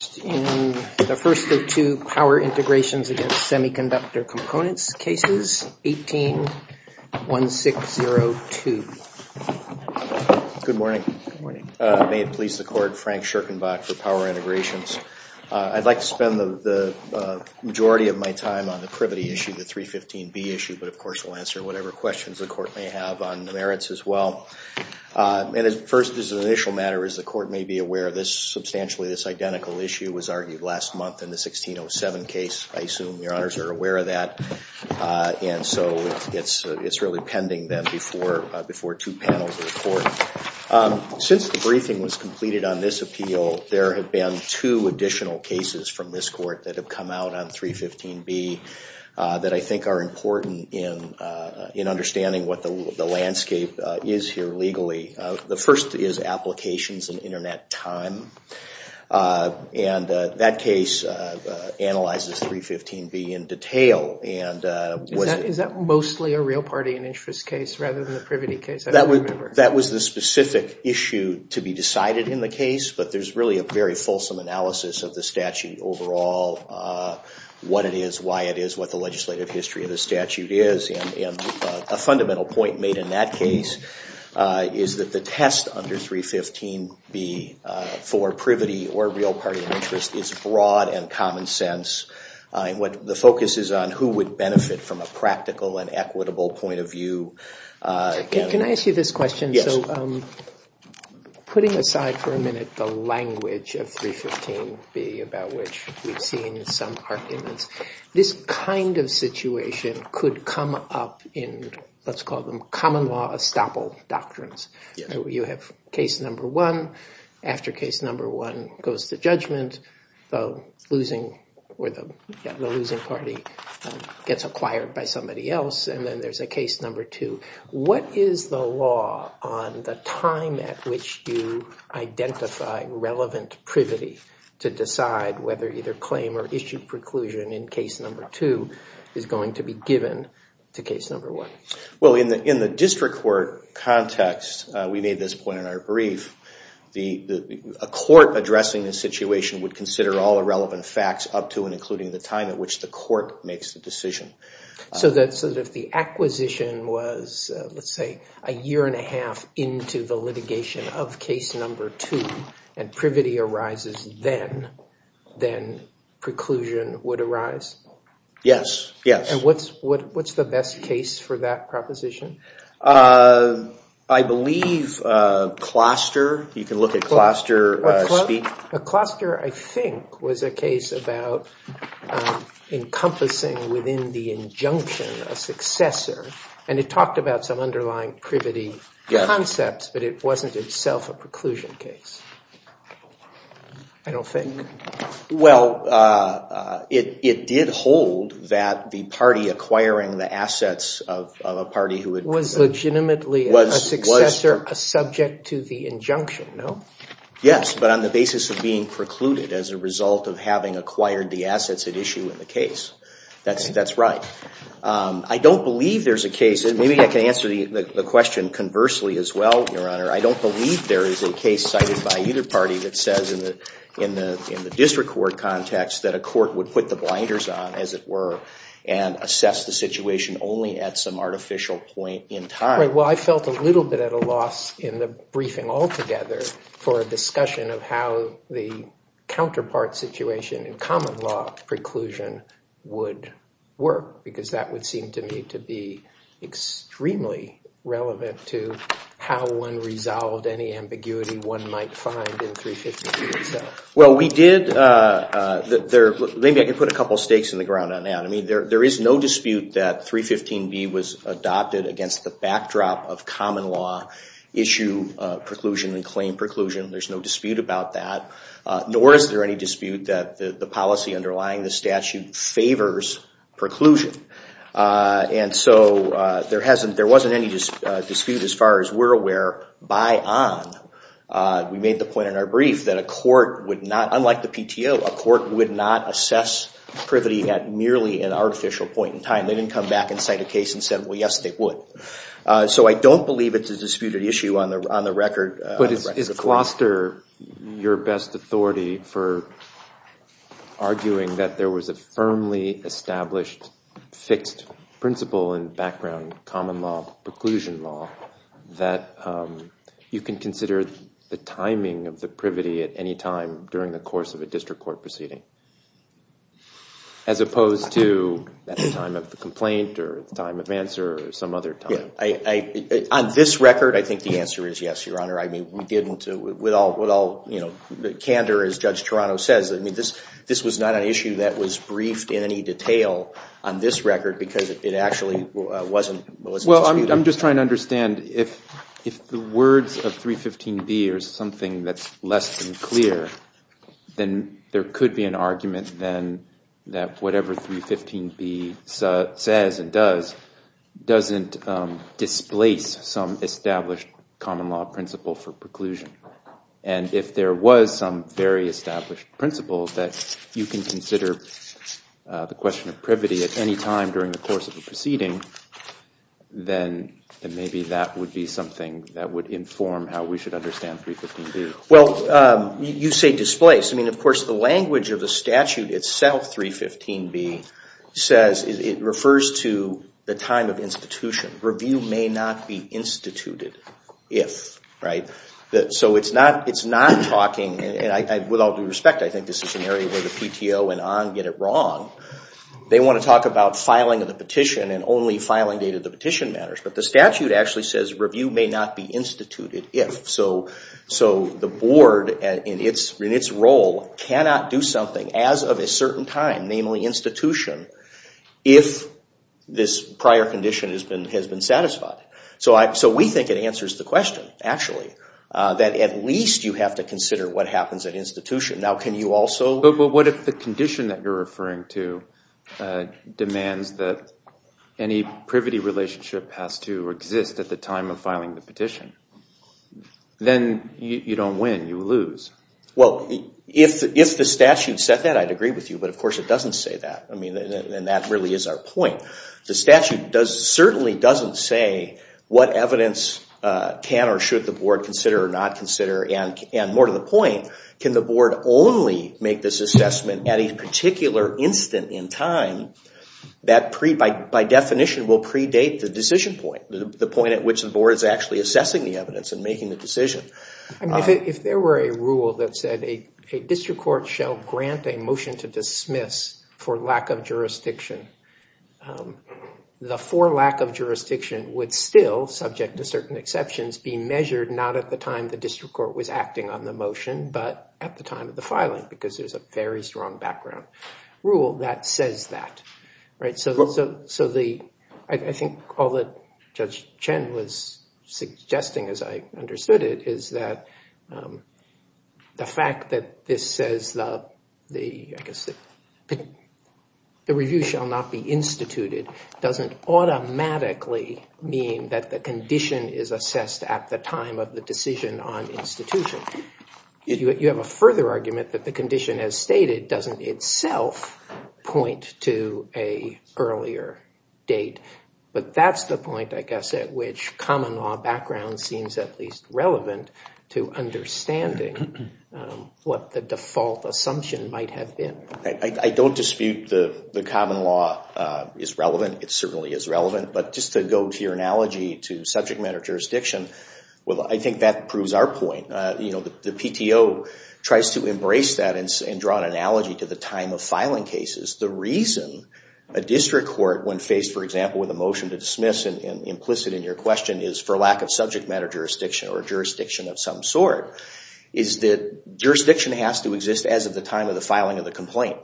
The first of two Power Integrations against Semiconductor Components cases, 18-1602. Good morning. May it please the Court, Frank Scherkenbach for Power Integrations. I'd like to spend the majority of my time on the Privity Issue, the 315B Issue, but of course we'll answer whatever questions the Court may have on the merits as well. First, as an initial matter, as the Court may be aware, substantially this identical issue was argued last month in the 16-07 case. I assume your Honors are aware of that, and so it's really pending then before two panels of the Court. Since the briefing was completed on this appeal, there have been two additional cases from this Court that have come out on 315B that I think are important in understanding what the landscape is here legally. The first is Applications and Internet Time, and that case analyzes 315B in detail. Is that mostly a Real Party and Interest case rather than the Privity case? That was the specific issue to be decided in the case, but there's really a very fulsome analysis of the statute overall, what it is, why it is, what the legislative history of the statute is. A fundamental point made in that case is that the test under 315B for Privity or Real Party and Interest is broad and common sense. The focus is on who would benefit from a practical and equitable point of view. Can I ask you this question? Putting aside for a minute the language of 315B about which we've seen some arguments, this kind of situation could come up in, let's call them common law estoppel doctrines. You have case number one, after case number one goes to judgment, the losing party gets acquired by somebody else, and then there's a case number two. What is the law on the time at which you identify relevant privity to decide whether either claim or issue preclusion in case number two is going to be given to case number one? In the district court context, we made this point in our brief, a court addressing this situation would consider all the relevant facts up to and including the time at which the court makes the decision. So if the acquisition was, let's say, a year and a half into the litigation of case number two, and privity arises then, then preclusion would arise? Yes, yes. What's the best case for that proposition? I believe cluster. You can look at cluster speak. Cluster, I think, was a case about encompassing within the injunction a successor, and it talked about some underlying privity concepts, but it wasn't itself a preclusion case. I don't think. Well, it did hold that the party acquiring the assets of a party who had... Was legitimately a successor subject to the injunction, no? Yes, but on the basis of being precluded as a result of having acquired the assets at issue in the case. That's right. I don't believe there's a case, and maybe I can answer the question conversely as well, Your Honor. I don't believe there is a case cited by either party that says in the district court context that a court would put the blinders on, as it were, and assess the situation only at some artificial point in time. Well, I felt a little bit at a loss in the briefing altogether for a discussion of how the counterpart situation in common law preclusion would work, because that would seem to me to be extremely relevant to how one resolved any ambiguity one might find in 315B itself. Well, we did... Maybe I can put a couple of stakes in the ground on that. I mean, there is no dispute that 315B was adopted against the backdrop of common law issue preclusion and claim preclusion. There's no dispute about that, nor is there any dispute that the policy underlying the statute favors preclusion. And so there wasn't any dispute, as far as we're aware, by on. We made the point in our brief that a court would not... They didn't come back and cite a case and said, well, yes, they would. So I don't believe it's a disputed issue on the record. But is Closter your best authority for arguing that there was a firmly established fixed principle in background common law preclusion law that you can consider the timing of the privity at any time during the course of a district court proceeding? As opposed to at the time of the complaint or the time of answer or some other time. On this record, I think the answer is yes, Your Honor. I mean, we didn't... With all candor, as Judge Toronto says, this was not an issue that was briefed in any detail on this record because it actually wasn't disputed. Well, I'm just trying to understand if the words of 315B are something that's less than clear, then there could be an argument then that whatever 315B says and does doesn't displace some established common law principle for preclusion. And if there was some very established principle that you can consider the question of privity at any time during the course of a proceeding, then maybe that would be something that would inform how we should understand 315B. Well, you say displace. I mean, of course, the language of the statute itself, 315B, says it refers to the time of institution. Review may not be instituted if. Right? So it's not talking... And with all due respect, I think this is an area where the PTO and ON get it wrong. They want to talk about filing of the petition and only filing date of the petition matters. But the statute actually says review may not be instituted if. So the board in its role cannot do something as of a certain time, namely institution, if this prior condition has been satisfied. So we think it answers the question, actually, that at least you have to consider what happens at institution. Now, can you also... But what if the condition that you're referring to demands that any privity relationship has to exist at the time of filing the petition? Then you don't win. You lose. Well, if the statute said that, I'd agree with you. But, of course, it doesn't say that. And that really is our point. The statute certainly doesn't say what evidence can or should the board consider or not consider. And more to the point, can the board only make this assessment at a particular instant in time that, by definition, will predate the decision point, the point at which the board is actually assessing the evidence and making the decision? If there were a rule that said a district court shall grant a motion to dismiss for lack of jurisdiction, the for lack of jurisdiction would still, subject to certain exceptions, be measured not at the time the district court was acting on the motion, but at the time of the filing, because there's a very strong background rule that says that. I think all that Judge Chen was suggesting, as I understood it, is that the fact that this says the review shall not be instituted doesn't automatically mean that the condition is assessed at the time of the decision on institution. You have a further argument that the condition as stated doesn't itself point to an earlier date. But that's the point, I guess, at which common law background seems at least relevant to understanding what the default assumption might have been. I don't dispute the common law is relevant. It certainly is relevant. But just to go to your analogy to subject matter jurisdiction, well, I think that proves our point. The PTO tries to embrace that and draw an analogy to the time of filing cases. The reason a district court, when faced, for example, with a motion to dismiss, and implicit in your question, is for lack of subject matter jurisdiction or jurisdiction of some sort, is that jurisdiction has to exist as of the time of the filing of the complaint.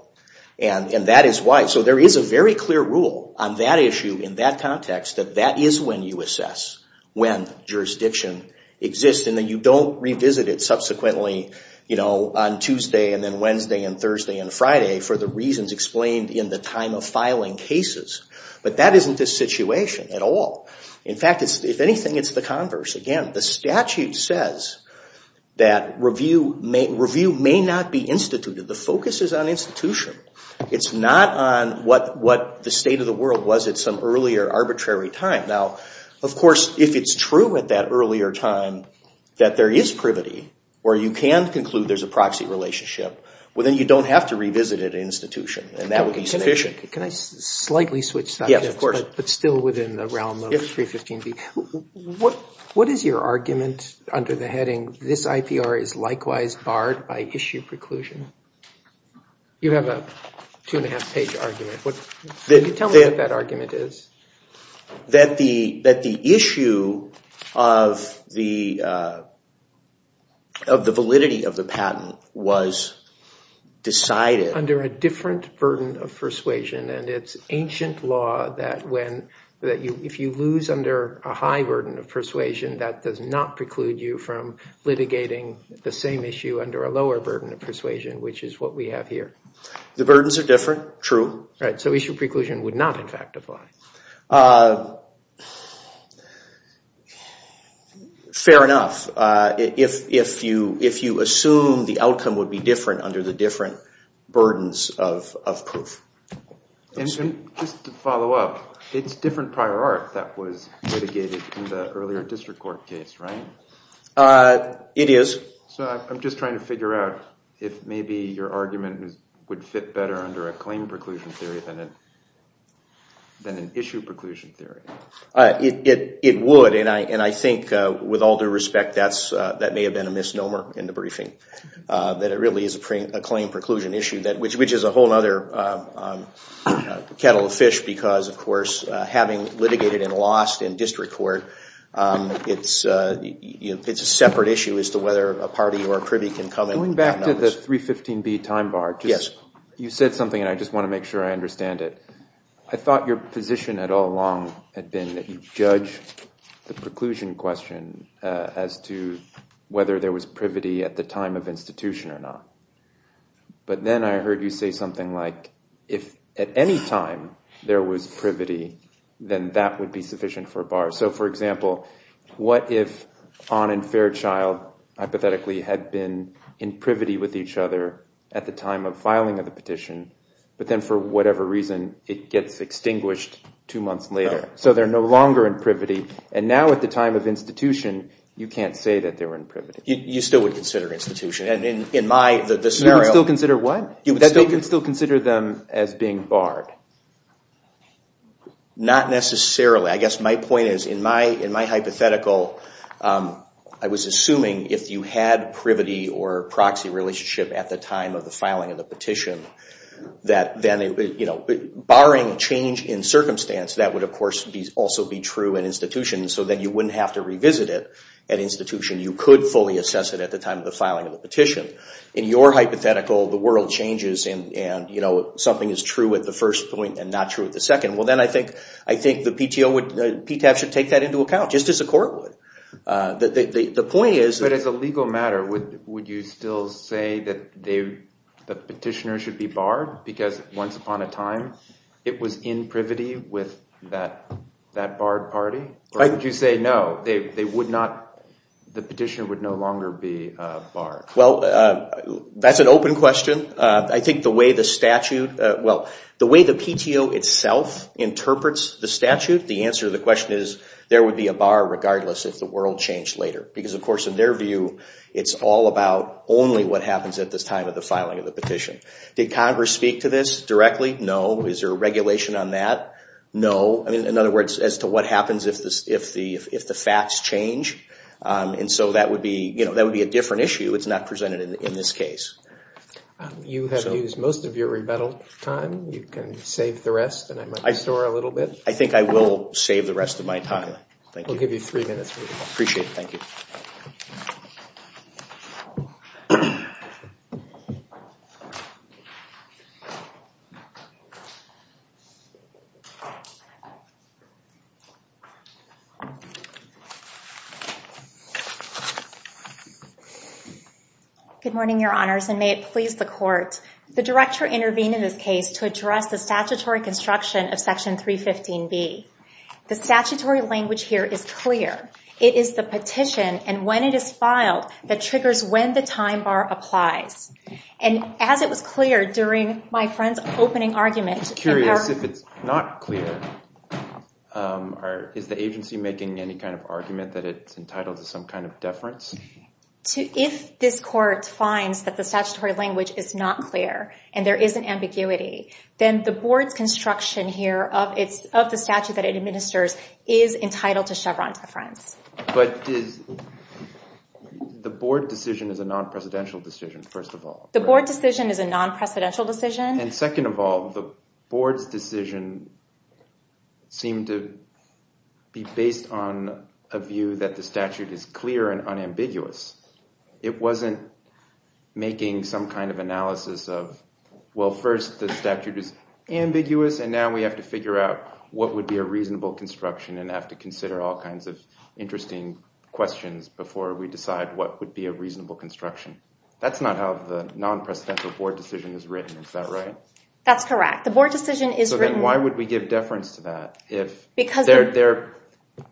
And that is why. So there is a very clear rule on that issue in that context that that is when you assess when jurisdiction exists and that you don't revisit it subsequently on Tuesday and then Wednesday and Thursday and Friday for the reasons explained in the time of filing cases. But that isn't the situation at all. In fact, if anything, it's the converse. Again, the statute says that review may not be instituted. The focus is on institution. It's not on what the state of the world was at some earlier arbitrary time. Now, of course, if it's true at that earlier time that there is privity where you can conclude there's a proxy relationship, well, then you don't have to revisit it at institution. And that would be sufficient. Can I slightly switch subjects? Yes, of course. But still within the realm of 315B. What is your argument under the heading, this IPR is likewise barred by issue preclusion? You have a two-and-a-half-page argument. Can you tell me what that argument is? That the issue of the validity of the patent was decided under a different burden of persuasion. And it's ancient law that if you lose under a high burden of persuasion, that does not preclude you from litigating the same issue under a lower burden of persuasion, which is what we have here. The burdens are different. True. So issue preclusion would not, in fact, apply. Fair enough. If you assume the outcome would be different under the different burdens of proof. And just to follow up, it's different prior art that was litigated in the earlier district court case, right? It is. So I'm just trying to figure out if maybe your argument would fit better under a claim preclusion theory than an issue preclusion theory. It would. And I think, with all due respect, that may have been a misnomer in the briefing. That it really is a claim preclusion issue, which is a whole other kettle of fish. Because, of course, having litigated and lost in district court, it's a separate issue as to whether a party or a privy can come and have notice. Going back to the 315B time bar, you said something, and I just want to make sure I understand it. I thought your position all along had been that you judge the preclusion question as to whether there was privity at the time of institution or not. But then I heard you say something like, if at any time there was privity, then that would be sufficient for a bar. So, for example, what if Ahn and Fairchild hypothetically had been in privity with each other at the time of filing of the petition, but then for whatever reason it gets extinguished two months later. So they're no longer in privity. And now at the time of institution, you can't say that they were in privity. You still would consider institution. You would still consider what? You would still consider them as being barred. Not necessarily. I guess my point is, in my hypothetical, I was assuming if you had privity or proxy relationship at the time of the filing of the petition, that barring change in circumstance, that would of course also be true in institution. So then you wouldn't have to revisit it at institution. You could fully assess it at the time of the filing of the petition. In your hypothetical, the world changes and something is true at the first point and not true at the second. Well, then I think the PTAB should take that into account, just as a court would. The point is— But as a legal matter, would you still say that the petitioner should be barred? Because once upon a time, it was in privity with that barred party? Or would you say, no, the petitioner would no longer be barred? Well, that's an open question. I think the way the statute—well, the way the PTO itself interprets the statute, the answer to the question is, there would be a bar regardless if the world changed later. Because of course, in their view, it's all about only what happens at this time of the filing of the petition. Did Congress speak to this directly? No. Is there a regulation on that? No. In other words, as to what happens if the facts change. And so that would be a different issue. It's not presented in this case. You have used most of your rebuttal time. You can save the rest and I might restore a little bit. I think I will save the rest of my time. We'll give you three minutes. Appreciate it. Thank you. Good morning, Your Honors, and may it please the Court. The Director intervened in this case to address the statutory construction of Section 315B. The statutory language here is clear. It is the petition and when it is filed that triggers when the time bar applies. And as it was clear during my friend's opening argument— I'm curious if it's not clear. Is the agency making any kind of argument that it's entitled to some kind of deference? If this Court finds that the statutory language is not clear and there is an ambiguity, then the Board's construction here of the statute that it administers is entitled to Chevron deference. But the Board decision is a non-presidential decision, first of all. The Board decision is a non-presidential decision. And second of all, the Board's decision seemed to be based on a view that the statute is clear and unambiguous. It wasn't making some kind of analysis of, well, first the statute is ambiguous, and now we have to figure out what would be a reasonable construction and have to consider all kinds of interesting questions before we decide what would be a reasonable construction. That's not how the non-presidential Board decision is written, is that right? That's correct. The Board decision is written— So then why would we give deference to that if their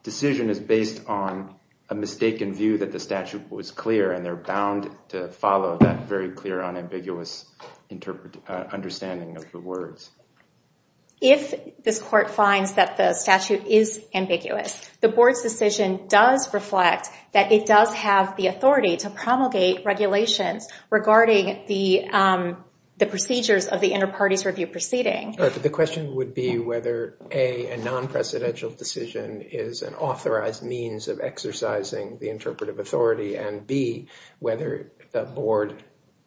decision is based on a mistaken view that the statute was clear and they're bound to follow that very clear, unambiguous understanding of the words? If this Court finds that the statute is ambiguous, the Board's decision does reflect that it does have the authority to promulgate regulations regarding the procedures of the Interparties Review proceeding. The question would be whether, A, a non-presidential decision is an authorized means of exercising the interpretive authority, and, B, whether a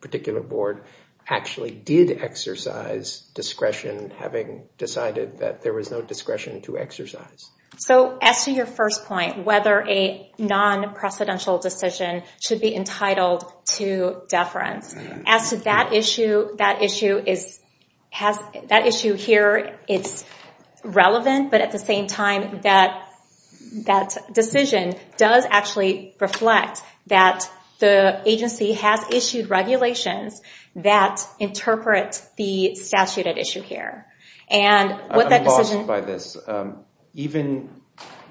particular Board actually did exercise discretion, So as to your first point, whether a non-presidential decision should be entitled to deference, as to that issue, that issue here is relevant, but at the same time that decision does actually reflect that the agency has issued regulations that interpret the statute at issue here. I'm lost by this. Even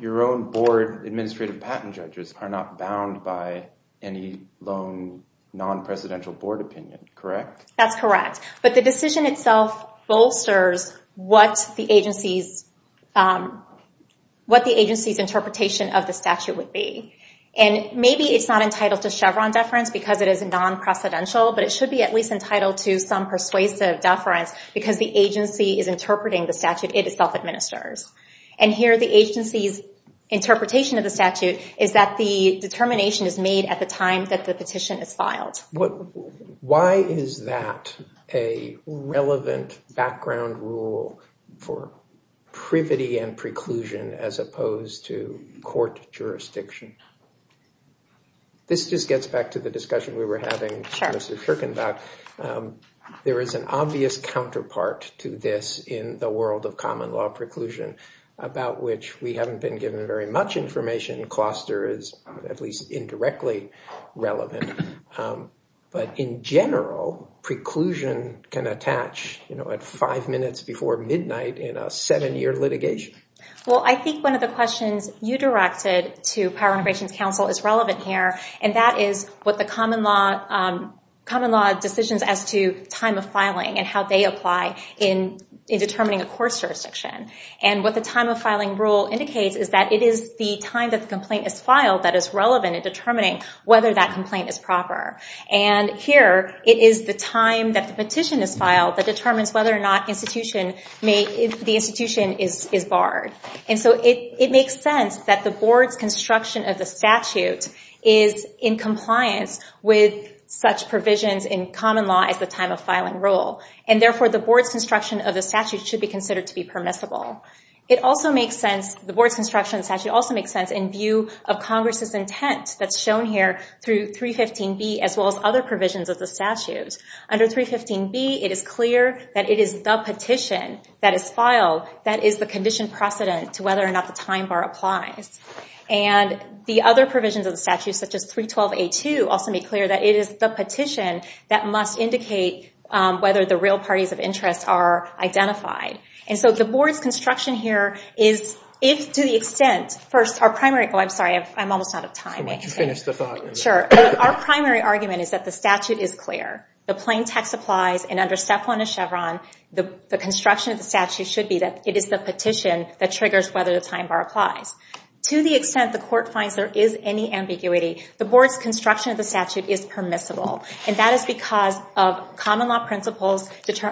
your own Board administrative patent judges are not bound by any lone non-presidential Board opinion, correct? That's correct. But the decision itself bolsters what the agency's interpretation of the statute would be. And maybe it's not entitled to Chevron deference because it is non-presidential, but it should be at least entitled to some persuasive deference because the agency is interpreting the statute itself administers. And here the agency's interpretation of the statute is that the determination is made at the time that the petition is filed. Why is that a relevant background rule for privity and preclusion as opposed to court jurisdiction? This just gets back to the discussion we were having, Mr. Shirkenbach. There is an obvious counterpart to this in the world of common law preclusion, about which we haven't been given very much information. Cluster is at least indirectly relevant. But in general, preclusion can attach, you know, at five minutes before midnight in a seven year litigation. Well, I think one of the questions you directed to Power Integrations Council is relevant here, and that is what the common law decisions as to time of filing and how they apply in determining a court's jurisdiction. And what the time of filing rule indicates is that it is the time that the complaint is filed that is relevant in determining whether that complaint is proper. And here it is the time that the petition is filed that determines whether or not the institution is barred. And so it makes sense that the board's construction of the statute is in compliance with such provisions in common law as the time of filing rule. And therefore the board's construction of the statute should be considered to be permissible. The board's construction of the statute also makes sense in view of Congress's intent that's shown here through 315B as well as other provisions of the statute. Under 315B, it is clear that it is the petition that is filed that is the condition precedent to whether or not the time bar applies. And the other provisions of the statute, such as 312A2, also make clear that it is the petition that must indicate whether the real parties of interest are identified. And so the board's construction here is, if to the extent, first our primary, oh I'm sorry, I'm almost out of time. Sure, our primary argument is that the statute is clear. The plain text applies and under Step 1 of Chevron, the construction of the statute should be that it is the petition that triggers whether the time bar applies. To the extent the court finds there is any ambiguity, the board's construction of the statute is permissible. And that is because of common law principles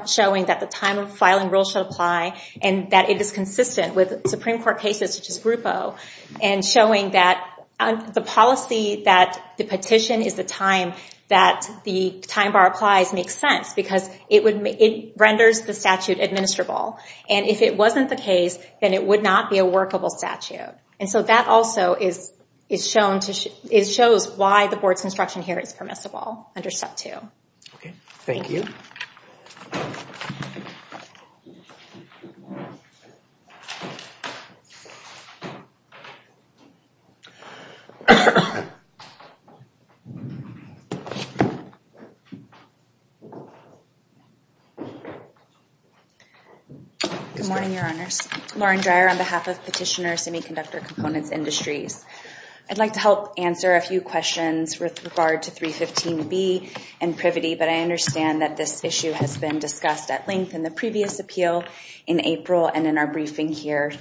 showing that the time of filing rule should apply and that it is consistent with Supreme Court cases such as Grupo. And showing that the policy that the petition is the time that the time bar applies makes sense because it renders the statute admissible. And if it wasn't the case, then it would not be a workable statute. And so that also shows why the board's construction here is permissible under Step 2. Okay, thank you. Good morning, Your Honors. Lauren Dreyer on behalf of Petitioner Semiconductor Components Industries. I'd like to help answer a few questions with regard to 315B and privity. But I understand that this issue has been discussed at length in the previous appeal in April and in our briefing here.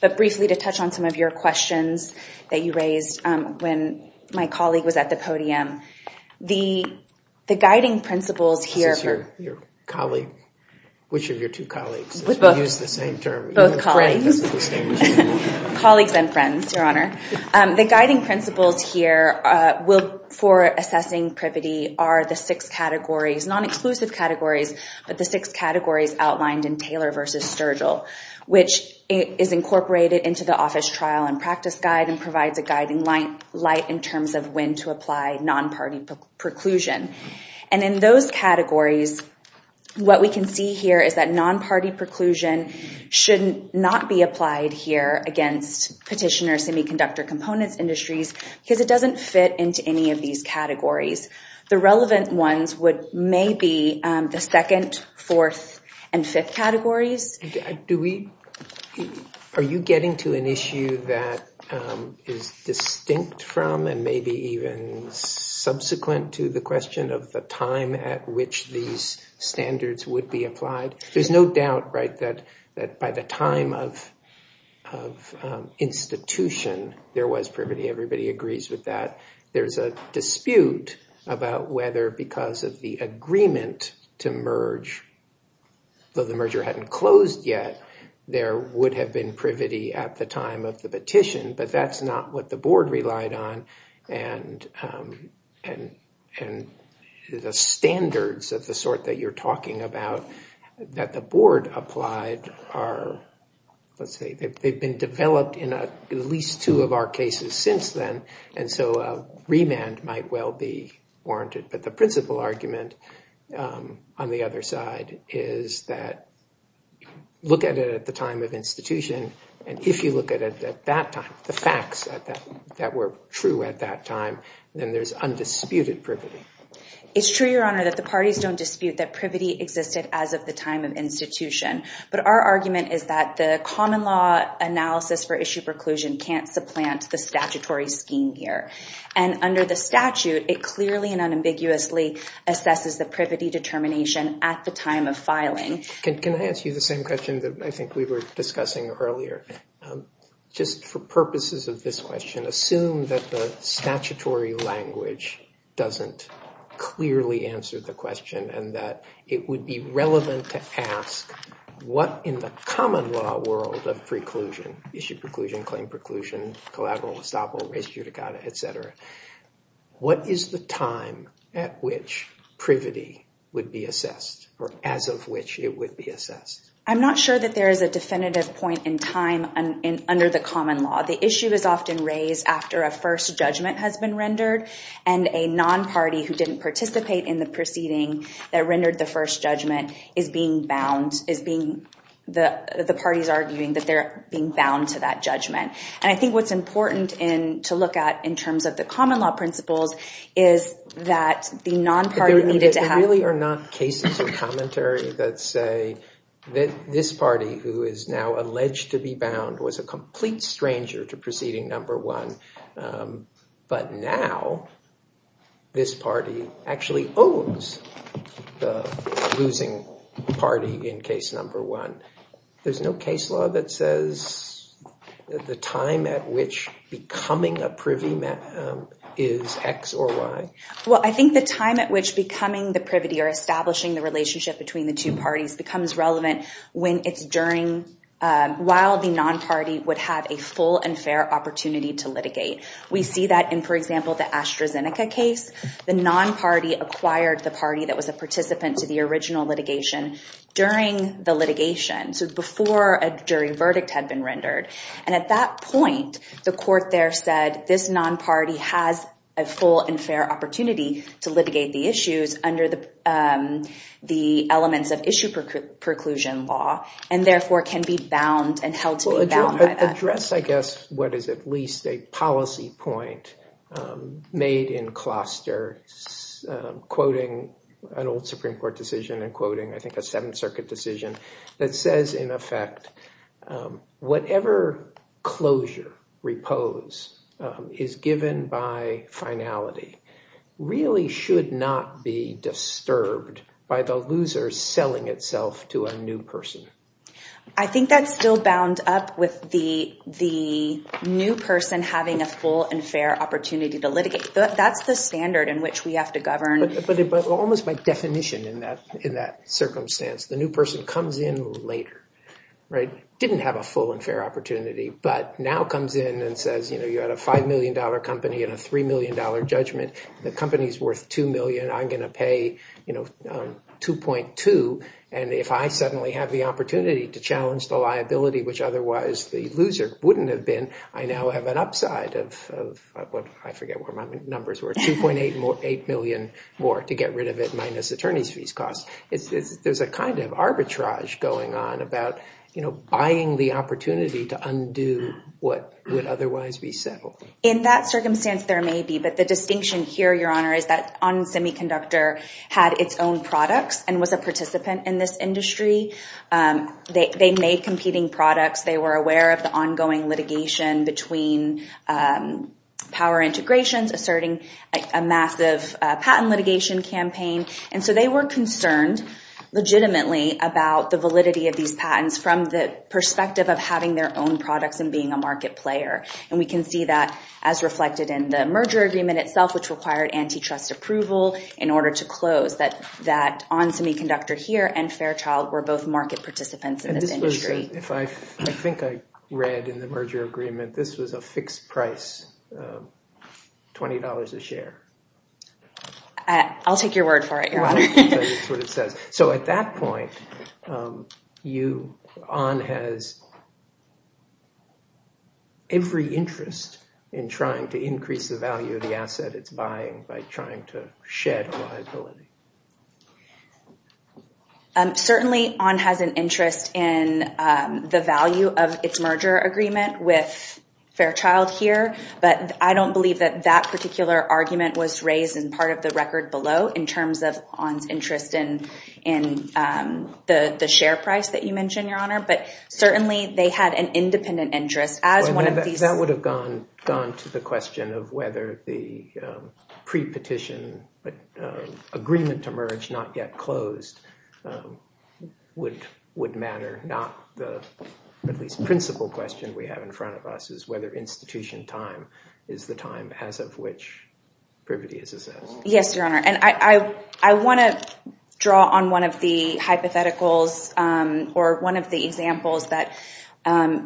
But briefly to touch on some of your questions that you raised when my colleague was at the podium. The guiding principles here for... This is your colleague. Which of your two colleagues? We use the same term. Both colleagues. Colleagues and friends, Your Honor. The guiding principles here for assessing privity are the six categories, non-exclusive categories, but the six categories outlined in Taylor v. Sturgill, which is incorporated into the office trial and practice guide and provides a guiding light in terms of when to apply non-party preclusion. And in those categories, what we can see here is that non-party preclusion should not be applied here against Petitioner Semiconductor Components Industries because it doesn't fit into any of these categories. The relevant ones would maybe the second, fourth, and fifth categories. Are you getting to an issue that is distinct from and maybe even subsequent to the question of the time at which these standards would be applied? There's no doubt, right, that by the time of institution there was privity. Everybody agrees with that. There's a dispute about whether because of the agreement to merge, though the merger hadn't closed yet, there would have been privity at the time of the petition. But that's not what the board relied on. And the standards of the sort that you're talking about that the board applied are, let's say, they've been developed in at least two of our cases since then. And so a remand might well be warranted. But the principal argument on the other side is that look at it at the time of institution. And if you look at it at that time, the facts that were true at that time, then there's undisputed privity. It's true, Your Honor, that the parties don't dispute that privity existed as of the time of institution. But our argument is that the common law analysis for issue preclusion can't supplant the statutory scheme here. And under the statute, it clearly and unambiguously assesses the privity determination at the time of filing. Can I ask you the same question that I think we were discussing earlier? Just for purposes of this question, assume that the statutory language doesn't clearly answer the question and that it would be relevant to ask what in the common law world of preclusion, issue preclusion, claim preclusion, collateral, estoppel, res judicata, et cetera, what is the time at which privity would be assessed or as of which it would be assessed? I'm not sure that there is a definitive point in time under the common law. The issue is often raised after a first judgment has been rendered and a non-party who didn't participate in the proceeding that rendered the first judgment is being bound, is being the parties arguing that they're being bound to that judgment. And I think what's important to look at in terms of the common law principles is that the non-party needed to have- There really are not cases of commentary that say that this party who is now alleged to be bound was a complete stranger to proceeding number one. But now, this party actually owns the losing party in case number one. There's no case law that says the time at which becoming a privy is X or Y? Well, I think the time at which becoming the privity or establishing the relationship between the two parties becomes relevant while the non-party would have a full and fair opportunity to litigate. We see that in, for example, the AstraZeneca case. The non-party acquired the party that was a participant to the original litigation during the litigation, so before a jury verdict had been rendered. And at that point, the court there said, has a full and fair opportunity to litigate the issues under the elements of issue preclusion law and therefore can be bound and held to be bound by that. Address, I guess, what is at least a policy point made in Closter, quoting an old Supreme Court decision and quoting, I think, a Seventh Circuit decision that says, in effect, whatever closure repose is given by finality really should not be disturbed by the loser selling itself to a new person. I think that's still bound up with the new person having a full and fair opportunity to litigate. That's the standard in which we have to govern. But almost by definition in that circumstance, the new person comes in later, didn't have a full and fair opportunity, but now comes in and says, you know, you had a five million dollar company and a three million dollar judgment. The company is worth two million. I'm going to pay, you know, 2.2. And if I suddenly have the opportunity to challenge the liability, which otherwise the loser wouldn't have been, I now have an upside of, I forget what my numbers were, 2.8 million more to get rid of it minus attorney's fees costs. There's a kind of arbitrage going on about, you know, buying the opportunity to undo what would otherwise be settled. In that circumstance, there may be. But the distinction here, Your Honor, is that On Semiconductor had its own products and was a participant in this industry. They made competing products. They were aware of the ongoing litigation between power integrations, asserting a massive patent litigation campaign. And so they were concerned legitimately about the validity of these patents from the perspective of having their own products and being a market player. And we can see that as reflected in the merger agreement itself, which required antitrust approval in order to close. That On Semiconductor here and Fairchild were both market participants in this industry. If I think I read in the merger agreement, this was a fixed price, $20 a share. I'll take your word for it, Your Honor. So at that point, On has every interest in trying to increase the value of the asset it's buying by trying to shed liability. Certainly, On has an interest in the value of its merger agreement with Fairchild here. But I don't believe that that particular argument was raised in part of the record below in terms of On's interest in the share price that you mentioned, Your Honor. But certainly, they had an independent interest. That would have gone to the question of whether the pre-petition agreement to merge, not yet closed, would matter. Not the, at least, principal question we have in front of us is whether institution time is the time as of which privity is assessed. Yes, Your Honor. And I want to draw on one of the hypotheticals or one of the examples that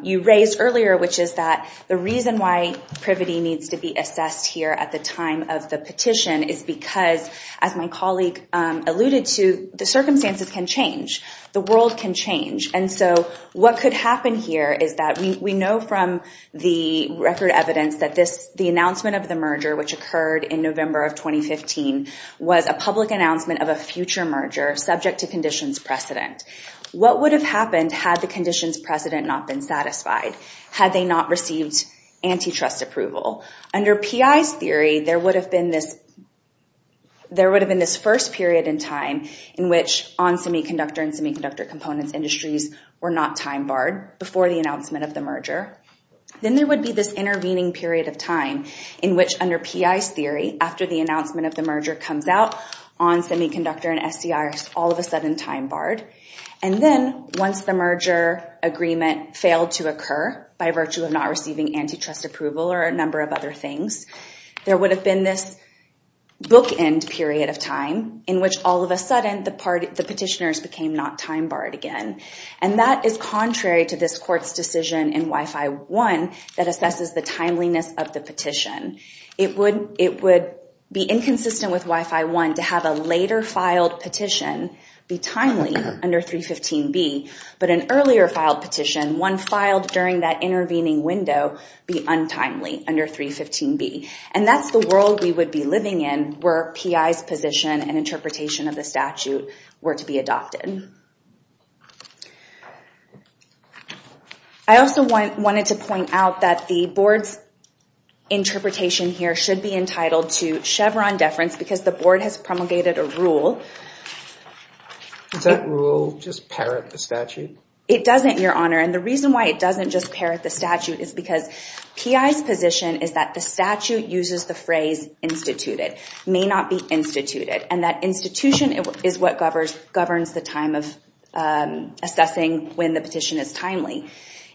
you raised earlier, which is that the reason why privity needs to be assessed here at the time of the petition is because, as my colleague alluded to, the circumstances can change. The world can change. And so what could happen here is that we know from the record evidence that the announcement of the merger, which occurred in November of 2015, was a public announcement of a future merger subject to conditions precedent. What would have happened had the conditions precedent not been satisfied? Had they not received antitrust approval? Under PI's theory, there would have been this first period in time in which on semiconductor and semiconductor components industries were not time barred before the announcement of the merger. Then there would be this intervening period of time in which, under PI's theory, after the announcement of the merger comes out, on semiconductor and SCRs, all of a sudden, time barred. And then, once the merger agreement failed to occur by virtue of not receiving antitrust approval or a number of other things, there would have been this bookend period of time in which, all of a sudden, the petitioners became not time barred again. And that is contrary to this court's decision in Wi-Fi 1 that assesses the timeliness of the petition. It would be inconsistent with Wi-Fi 1 to have a later filed petition be timely under 315B, but an earlier filed petition, one filed during that intervening window, be untimely under 315B. And that's the world we would be living in where PI's position and interpretation of the statute were to be adopted. I also wanted to point out that the board's interpretation here should be entitled to Chevron deference, because the board has promulgated a rule. Does that rule just parrot the statute? It doesn't, Your Honor. And the reason why it doesn't just parrot the statute is because PI's position is that the statute uses the phrase instituted, may not be instituted, and that institution is what governs the time bar. The time of assessing when the petition is timely.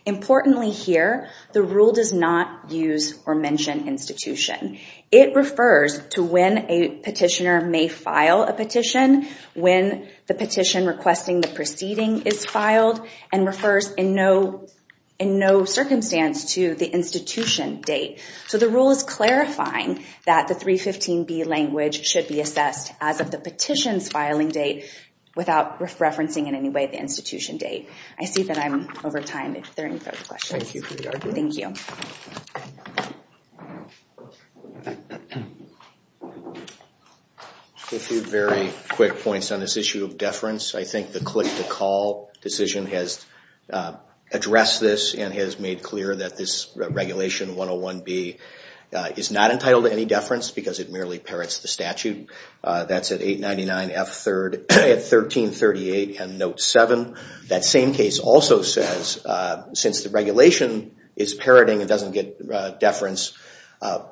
Importantly here, the rule does not use or mention institution. It refers to when a petitioner may file a petition, when the petition requesting the proceeding is filed, and refers in no circumstance to the institution date. So the rule is clarifying that the 315B language should be assessed as of the petition's filing date without referencing in any way the institution date. I see that I'm over time if there are any further questions. Thank you for your argument. Thank you. A few very quick points on this issue of deference. I think the click-to-call decision has addressed this and has made clear that this Regulation 101B is not entitled to any deference because it merely parrots the statute. That's at 899F3rd at 1338 and Note 7. That same case also says since the regulation is parroting, it doesn't get deference,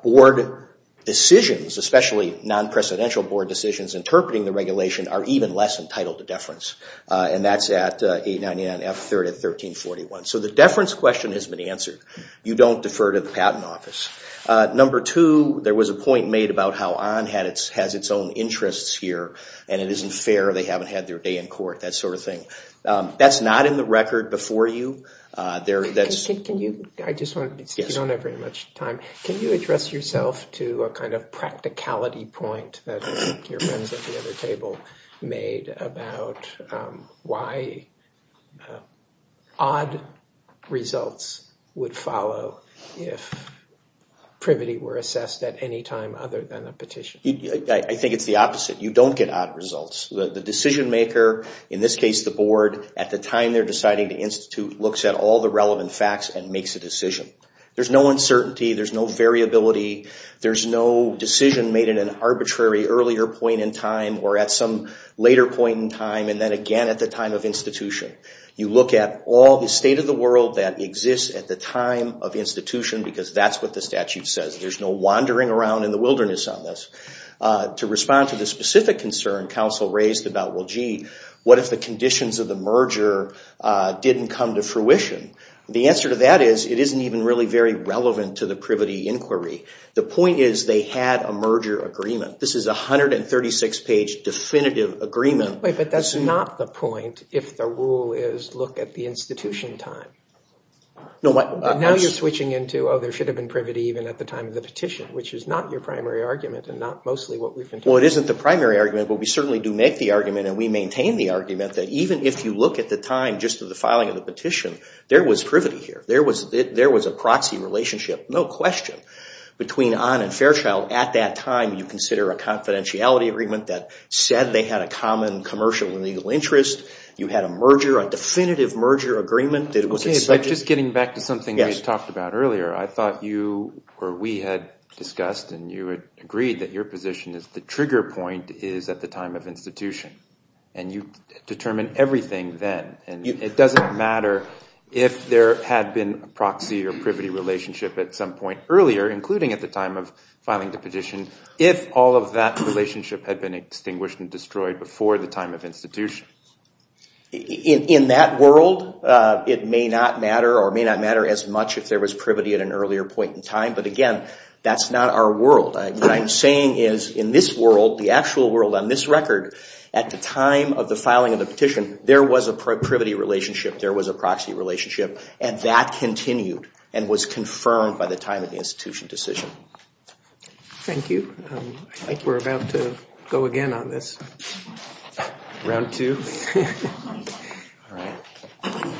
board decisions, especially non-presidential board decisions interpreting the regulation, are even less entitled to deference. And that's at 899F3rd at 1341. So the deference question has been answered. You don't defer to the Patent Office. Number two, there was a point made about how ON has its own interests here, and it isn't fair they haven't had their day in court, that sort of thing. That's not in the record before you. Can you address yourself to a kind of practicality point that your friends at the other table made about why odd results would follow if privity were assessed at any time other than a petition? I think it's the opposite. You don't get odd results. The decision-maker, in this case the board, at the time they're deciding to institute looks at all the relevant facts and makes a decision. There's no uncertainty. There's no variability. There's no decision made at an arbitrary earlier point in time or at some later point in time and then again at the time of institution. You look at all the state of the world that exists at the time of institution because that's what the statute says. There's no wandering around in the wilderness on this. To respond to the specific concern counsel raised about, well, gee, what if the conditions of the merger didn't come to fruition? The answer to that is it isn't even really very relevant to the privity inquiry. The point is they had a merger agreement. This is a 136-page definitive agreement. But that's not the point if the rule is look at the institution time. Now you're switching into, oh, there should have been privity even at the time of the petition, which is not your primary argument and not mostly what we've been talking about. Well, it isn't the primary argument, but we certainly do make the argument and we maintain the argument that even if you look at the time just of the filing of the petition, there was privity here. There was a proxy relationship, no question, between Ahn and Fairchild. At that time you consider a confidentiality agreement that said they had a common commercial and legal interest. You had a merger, a definitive merger agreement. Okay, but just getting back to something we talked about earlier, I thought you or we had discussed and you had agreed that your position is the trigger point is at the time of institution, and you determine everything then. It doesn't matter if there had been a proxy or privity relationship at some point earlier, including at the time of filing the petition, if all of that relationship had been extinguished and destroyed before the time of institution. In that world, it may not matter or may not matter as much if there was privity at an earlier point in time, but again, that's not our world. What I'm saying is in this world, the actual world on this record, at the time of the filing of the petition, there was a privity relationship, there was a proxy relationship, and that continued and was confirmed by the time of the institution decision. Thank you. I think we're about to go again on this. Round two? All right.